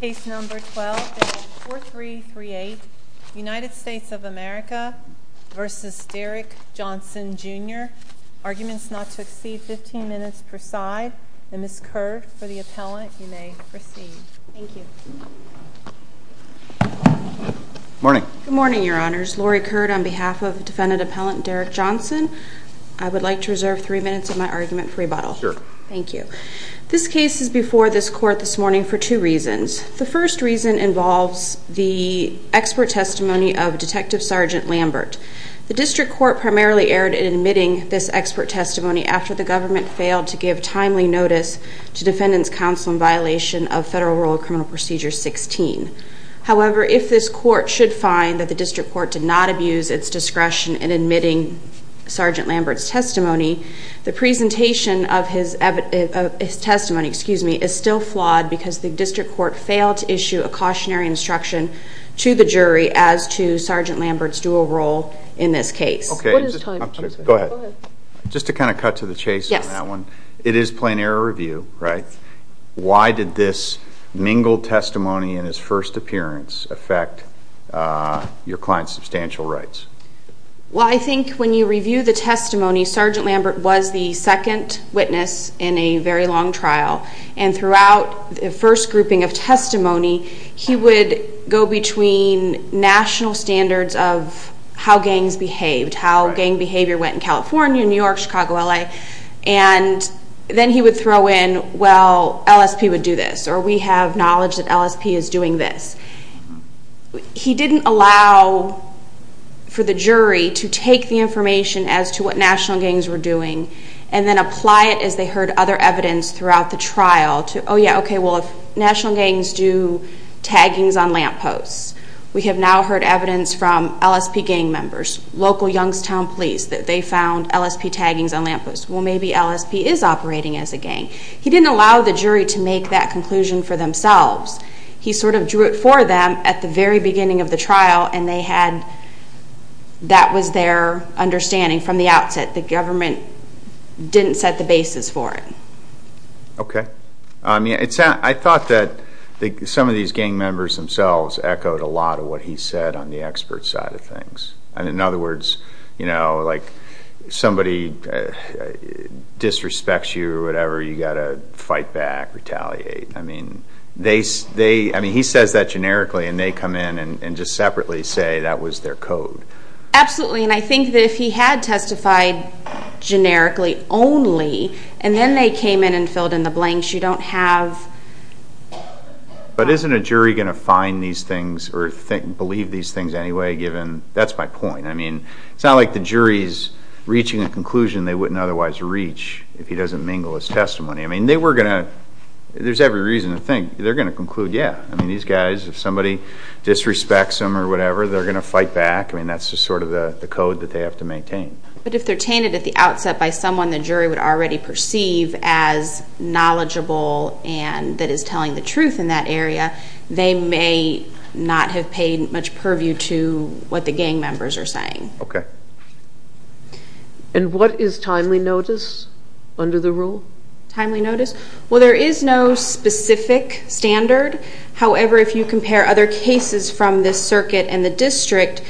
Case number 12-4338 United States of America v. Derrick Johnson Jr. Arguments not to exceed 15 minutes per side. Ms. Kerr, for the appellant, you may proceed. Thank you. Morning. Good morning, Your Honors. Laurie Kerr on behalf of defendant appellant Derrick Johnson. I would like to reserve 3 minutes of my argument for rebuttal. Sure. Thank you. This case is before this court this morning for two reasons. The first reason involves the expert testimony of Detective Sergeant Lambert. The district court primarily erred in admitting this expert testimony after the government failed to give timely notice to defendant's counsel in violation of Federal Rule of Criminal Procedure 16. However, if this court should find that the district court did not abuse its discretion in admitting Sergeant Lambert's testimony, the presentation of his testimony is still flawed because the district court failed to issue a cautionary instruction to the jury as to Sergeant Lambert's dual role in this case. Go ahead. Just to kind of cut to the chase on that one. It is plain error review, right? Why did this mingled testimony in his first appearance affect your client's substantial rights? Well, I think when you review the testimony, Sergeant Lambert was the second witness in a very long trial, and throughout the first grouping of testimony, he would go between national standards of how gangs behaved, how gang behavior went in California, New York, Chicago, L.A., and then he would throw in, well, LSP would do this, or we have knowledge that LSP is doing this. He didn't allow for the jury to take the information as to what national gangs were doing and then apply it as they heard other evidence throughout the trial to, oh, yeah, okay, well, national gangs do taggings on lampposts. We have now heard evidence from LSP gang members, local Youngstown police, that they found LSP taggings on lampposts. Well, maybe LSP is operating as a gang. He didn't allow the jury to make that conclusion for themselves. He sort of drew it for them at the very beginning of the trial, and that was their understanding from the outset. The government didn't set the basis for it. Okay. I thought that some of these gang members themselves echoed a lot of what he said on the expert side of things. In other words, like somebody disrespects you or whatever, you've got to fight back, retaliate. I mean, he says that generically, and they come in and just separately say that was their code. Absolutely. And I think that if he had testified generically only and then they came in and filled in the blanks, you don't have... But isn't a jury going to find these things or believe these things anyway, given... That's my point. I mean, it's not like the jury is reaching a conclusion they wouldn't otherwise reach if he doesn't mingle his testimony. I mean, they were going to... There's every reason to think they're going to conclude, yeah. I mean, these guys, if somebody disrespects them or whatever, they're going to fight back. I mean, that's just sort of the code that they have to maintain. But if they're tainted at the outset by someone the jury would already perceive as knowledgeable and that is telling the truth in that area, they may not have paid much purview to what the gang members are saying. Okay. And what is timely notice under the rule? Timely notice? Well, there is no specific standard. However, if you compare other cases from this circuit and the district,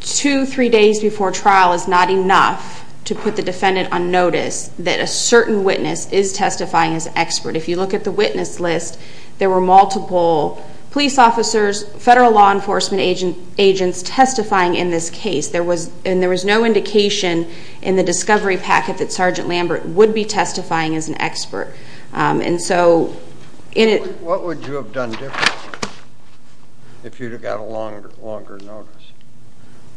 two, three days before trial is not enough to put the defendant on notice that a certain witness is testifying as an expert. If you look at the witness list, there were multiple police officers, federal law enforcement agents testifying in this case, and there was no indication in the discovery packet that Sergeant Lambert would be testifying as an expert. And so in it... What would you have done differently if you'd have got a longer notice?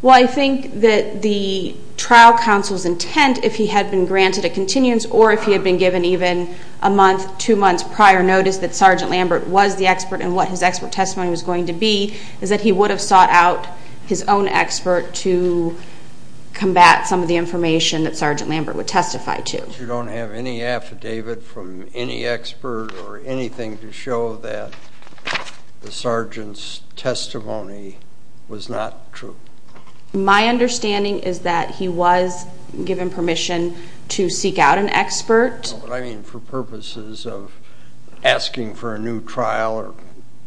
Well, I think that the trial counsel's intent, if he had been granted a continuance or if he had been given even a month, two months prior notice that Sergeant Lambert was the expert and what his expert testimony was going to be is that he would have sought out his own expert to combat some of the information that Sergeant Lambert would testify to. But you don't have any affidavit from any expert or anything to show that the sergeant's testimony was not true? My understanding is that he was given permission to seek out an expert. But, I mean, for purposes of asking for a new trial or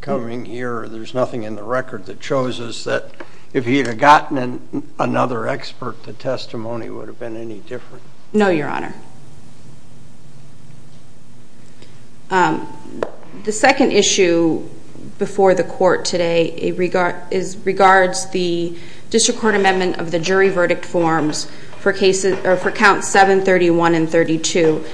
coming here, there's nothing in the record that shows us that if he had gotten another expert, the testimony would have been any different. No, Your Honor. The second issue before the court today regards the district court amendment of the jury verdict forms for count 731 and 732.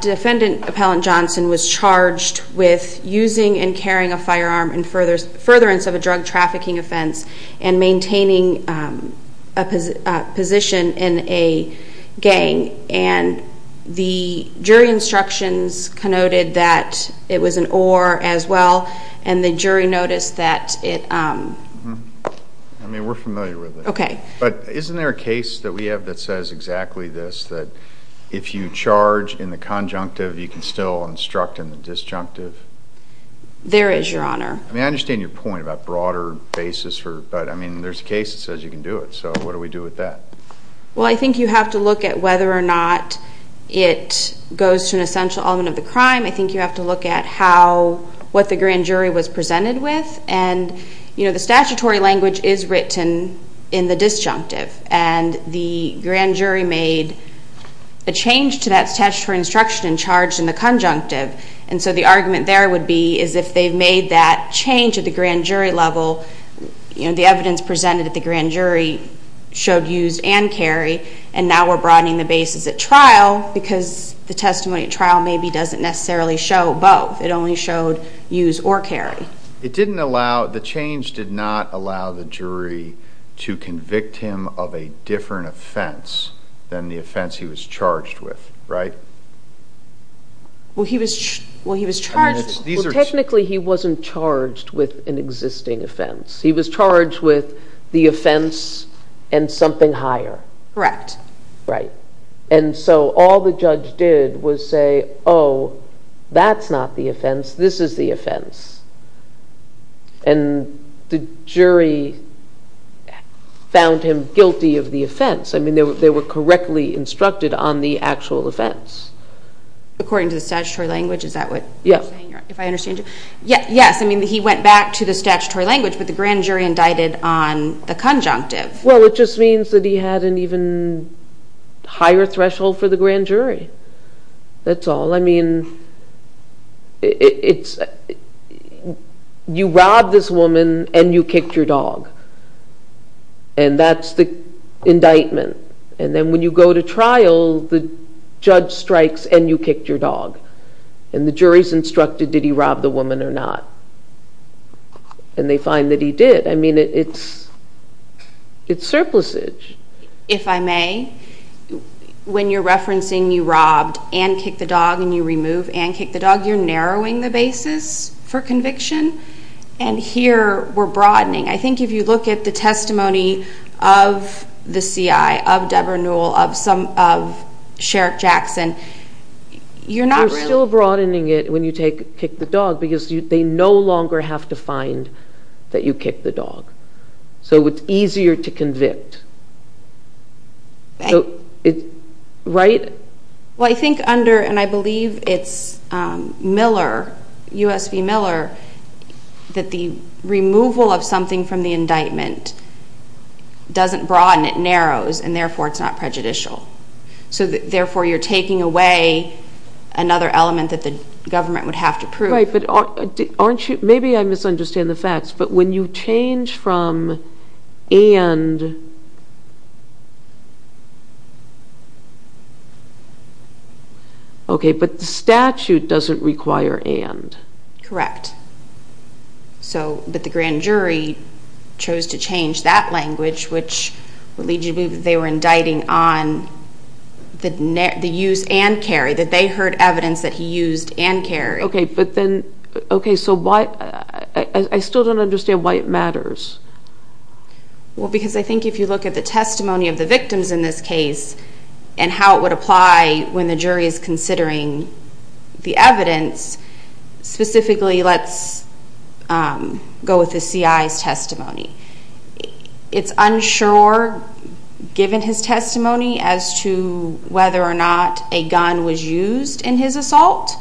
Defendant Appellant Johnson was charged with using and carrying a firearm in furtherance of a drug trafficking offense and maintaining a position in a gang. And the jury instructions connoted that it was an oar as well, and the jury noticed that it... I mean, we're familiar with it. Okay. But isn't there a case that we have that says exactly this, that if you charge in the conjunctive, you can still instruct in the disjunctive? There is, Your Honor. I mean, I understand your point about broader basis, but, I mean, there's a case that says you can do it. So what do we do with that? Well, I think you have to look at whether or not it goes to an essential element of the crime. I think you have to look at what the grand jury was presented with. The statutory language is written in the disjunctive, and the grand jury made a change to that statutory instruction and charged in the conjunctive. And so the argument there would be is if they've made that change at the grand jury level, the evidence presented at the grand jury showed used and carry, and now we're broadening the basis at trial because the testimony at trial maybe doesn't necessarily show both. It only showed used or carry. It didn't allow, the change did not allow the jury to convict him of a different offense than the offense he was charged with, right? Well, he was charged. Well, technically he wasn't charged with an existing offense. He was charged with the offense and something higher. Correct. Right. And so all the judge did was say, oh, that's not the offense. This is the offense. And the jury found him guilty of the offense. I mean, they were correctly instructed on the actual offense. According to the statutory language, is that what you're saying? Yes. If I understand you. Yes, I mean, he went back to the statutory language, but the grand jury indicted on the conjunctive. Well, it just means that he had an even higher threshold for the grand jury. That's all. I mean, you robbed this woman and you kicked your dog, and that's the indictment. And then when you go to trial, the judge strikes and you kicked your dog, and the jury's instructed did he rob the woman or not, and they find that he did. I mean, it's surplusage. If I may, when you're referencing you robbed and kicked the dog and you remove and kicked the dog, you're narrowing the basis for conviction, and here we're broadening. I think if you look at the testimony of the CI, of Deborah Newell, of Sherrick Jackson, you're not really. You're still broadening it when you kick the dog because they no longer have to find that you kicked the dog, so it's easier to convict, right? Well, I think under, and I believe it's Miller, U.S. v. Miller, that the removal of something from the indictment doesn't broaden. It narrows, and therefore it's not prejudicial. So therefore you're taking away another element that the government would have to prove. Right, but aren't you, maybe I misunderstand the facts, but when you change from and, okay, but the statute doesn't require and. Correct. So, but the grand jury chose to change that language, which would lead you to believe that they were indicting on the use and carry, that they heard evidence that he used and carried. Okay, but then, okay, so why, I still don't understand why it matters. Well, because I think if you look at the testimony of the victims in this case and how it would apply when the jury is considering the evidence, specifically let's go with the CI's testimony. It's unsure, given his testimony, as to whether or not a gun was used in his assault.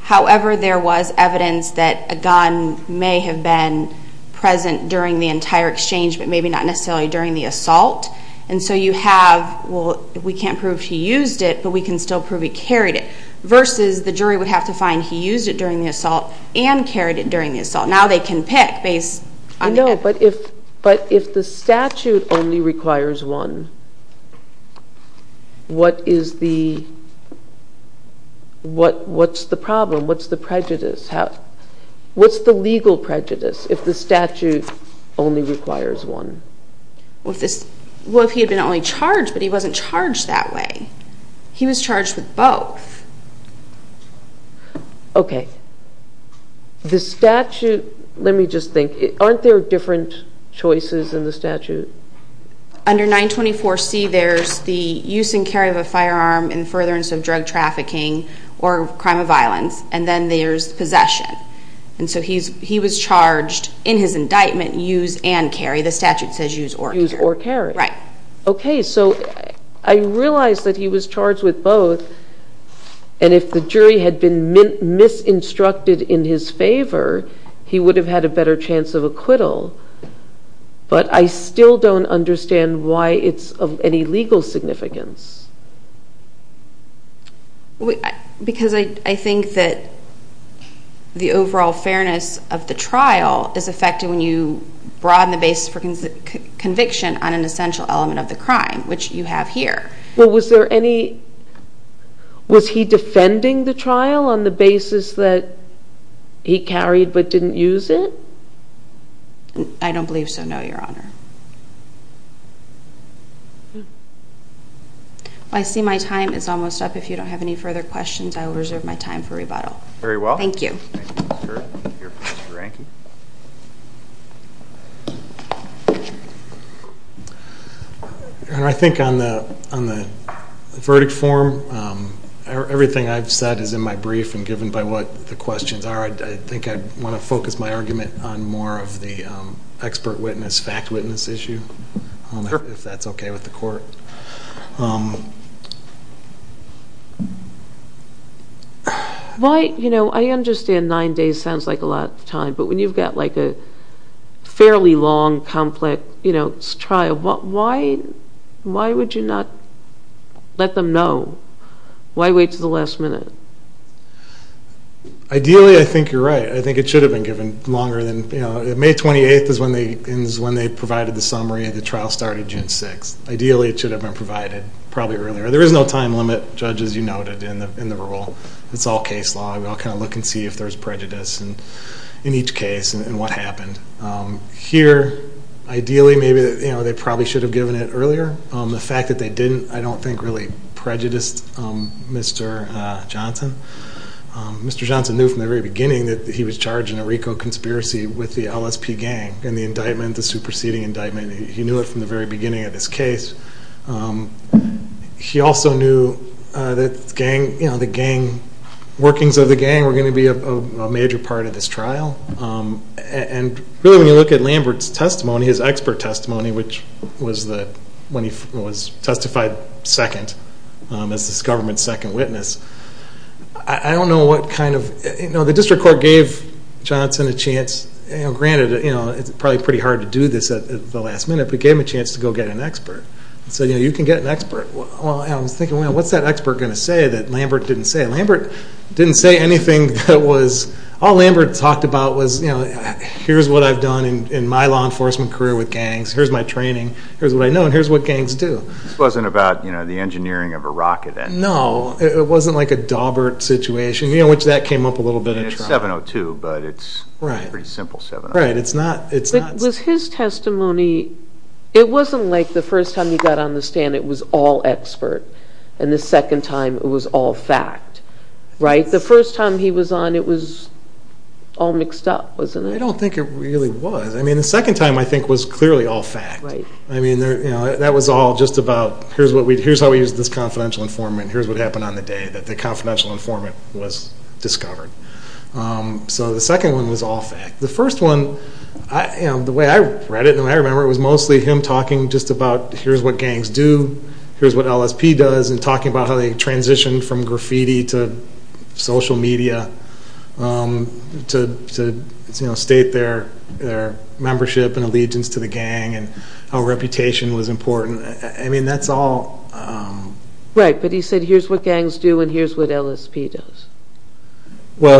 However, there was evidence that a gun may have been present during the entire exchange, but maybe not necessarily during the assault. And so you have, well, we can't prove he used it, but we can still prove he carried it, versus the jury would have to find he used it during the assault and carried it during the assault. Now they can pick based on that. I know, but if the statute only requires one, what is the, what's the problem? What's the prejudice? What's the legal prejudice if the statute only requires one? Well, if he had been only charged, but he wasn't charged that way. He was charged with both. Okay. The statute, let me just think, aren't there different choices in the statute? Under 924C there's the use and carry of a firearm in furtherance of drug trafficking or crime of violence, and then there's possession. And so he was charged in his indictment, use and carry. The statute says use or carry. Use or carry. Right. Okay, so I realize that he was charged with both, and if the jury had been misinstructed in his favor, he would have had a better chance of acquittal. But I still don't understand why it's of any legal significance. Because I think that the overall fairness of the trial is affected when you broaden the basis for conviction on an essential element of the crime, which you have here. Well, was there any, was he defending the trial on the basis that he carried but didn't use it? I don't believe so, no, Your Honor. I see my time is almost up. If you don't have any further questions, I will reserve my time for rebuttal. Very well. Thank you. Mr. Rankin. Your Honor, I think on the verdict form, everything I've said is in my brief and given by what the questions are. I think I want to focus my argument on more of the expert witness, fact witness issue, if that's okay with the court. I understand nine days sounds like a lot of time, but when you've got a fairly long, complex trial, why would you not let them know? Why wait until the last minute? Ideally, I think you're right. I think it should have been given longer than, you know, May 28th is when they provided the summary and the trial started June 6th. Ideally, it should have been provided probably earlier. There is no time limit, Judge, as you noted in the rule. It's all case law. We all kind of look and see if there's prejudice in each case and what happened. Here, ideally, maybe, you know, they probably should have given it earlier. The fact that they didn't, I don't think really prejudiced Mr. Johnson. Mr. Johnson knew from the very beginning that he was charged in a RICO conspiracy with the LSP gang in the indictment, the superseding indictment. He knew it from the very beginning of this case. He also knew that gang, you know, the gang, workings of the gang were going to be a major part of this trial. And really, when you look at Lambert's testimony, his expert testimony, which was when he was testified second as this government's second witness, I don't know what kind of, you know, the district court gave Johnson a chance. Granted, you know, it's probably pretty hard to do this at the last minute, but he gave him a chance to go get an expert. He said, you know, you can get an expert. I was thinking, well, what's that expert going to say that Lambert didn't say? Lambert didn't say anything that was, all Lambert talked about was, you know, here's what I've done in my law enforcement career with gangs. Here's my training. Here's what I know, and here's what gangs do. This wasn't about, you know, the engineering of a rocket. No, it wasn't like a Dawbert situation, you know, which that came up a little bit in trial. 702, but it's a pretty simple 702. Right, it's not. But was his testimony, it wasn't like the first time he got on the stand it was all expert and the second time it was all fact, right? The first time he was on it was all mixed up, wasn't it? I don't think it really was. I mean, the second time I think was clearly all fact. I mean, you know, that was all just about here's how we use this confidential informant, here's what happened on the day that the confidential informant was discovered. So the second one was all fact. The first one, the way I read it and the way I remember it was mostly him talking just about here's what gangs do, here's what LSP does, and talking about how they transitioned from graffiti to social media to state their membership and allegiance to the gang and how reputation was important. I mean, that's all. Right, but he said here's what gangs do and here's what LSP does. Well,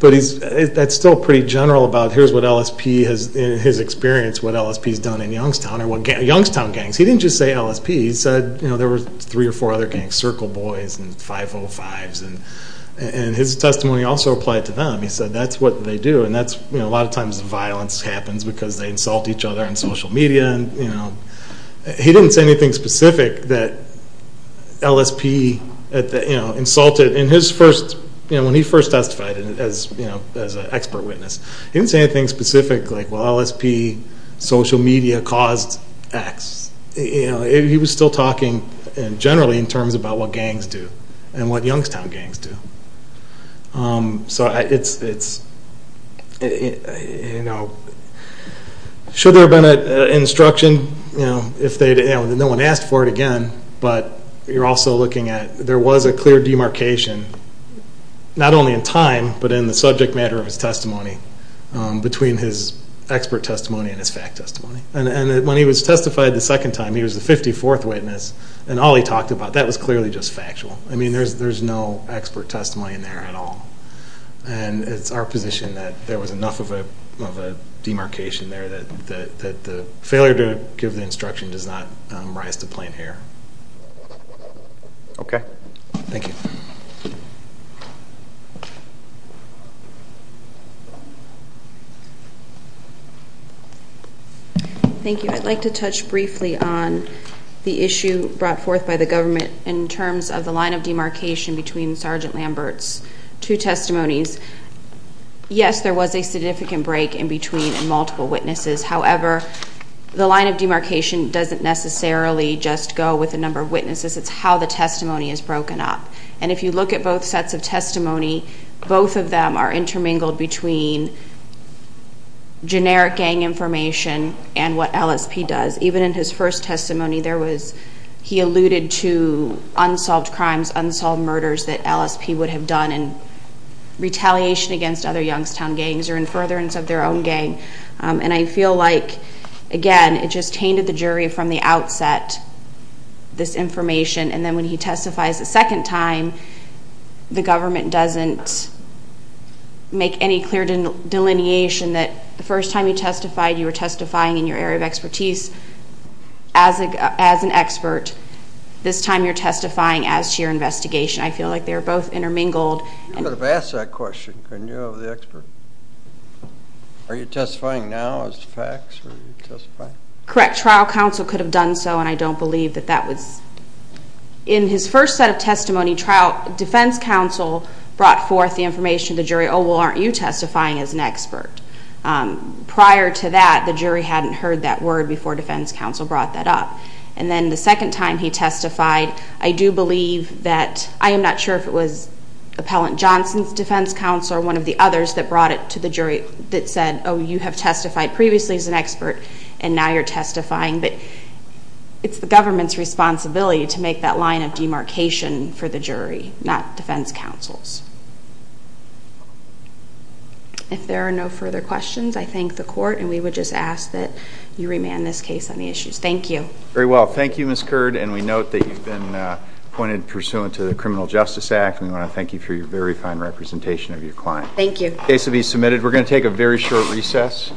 but that's still pretty general about here's what LSP has, in his experience, what LSP has done in Youngstown or Youngstown gangs. He didn't just say LSP. He said there were three or four other gangs, Circle Boys and 505s, and his testimony also applied to them. He said that's what they do and a lot of times violence happens because they insult each other on social media. He didn't say anything specific that LSP insulted. When he first testified as an expert witness, he didn't say anything specific like, well, LSP social media caused X. He was still talking generally in terms about what gangs do and what Youngstown gangs do. So it's, you know, should there have been an instruction, you know, no one asked for it again, but you're also looking at there was a clear demarcation, not only in time, but in the subject matter of his testimony, between his expert testimony and his fact testimony. And when he was testified the second time, he was the 54th witness, and all he talked about, that was clearly just factual. I mean, there's no expert testimony in there at all. And it's our position that there was enough of a demarcation there that the failure to give the instruction does not rise to plain hair. Okay. Thank you. Thank you. I'd like to touch briefly on the issue brought forth by the government in terms of the line of demarcation between Sergeant Lambert's two testimonies. Yes, there was a significant break in between and multiple witnesses. However, the line of demarcation doesn't necessarily just go with the number of witnesses. It's how the testimony is broken up. And if you look at both sets of testimony, both of them are intermingled between generic gang information and what LSP does. Even in his first testimony, he alluded to unsolved crimes, unsolved murders that LSP would have done in retaliation against other Youngstown gangs or in furtherance of their own gang. And I feel like, again, it just tainted the jury from the outset, this information. And then when he testifies a second time, the government doesn't make any clear delineation that the first time you testified, you were testifying in your area of expertise as an expert. This time you're testifying as to your investigation. I feel like they're both intermingled. You could have asked that question, couldn't you, of the expert? Are you testifying now as facts or are you testifying? Correct. Trial counsel could have done so, and I don't believe that that was. In his first set of testimony, trial defense counsel brought forth the information to the jury, oh, well, aren't you testifying as an expert? Prior to that, the jury hadn't heard that word before defense counsel brought that up. And then the second time he testified, I do believe that, I am not sure if it was Appellant Johnson's defense counsel or one of the others that brought it to the jury that said, oh, you have testified previously as an expert and now you're testifying, but it's the government's responsibility to make that line of demarcation for the jury, not defense counsel's. If there are no further questions, I thank the court, and we would just ask that you remand this case on the issues. Thank you. Very well. Thank you, Ms. Curd, and we note that you've been appointed pursuant to the Criminal Justice Act, and we want to thank you for your very fine representation of your client. Thank you. The case will be submitted. We're going to take a very short recess.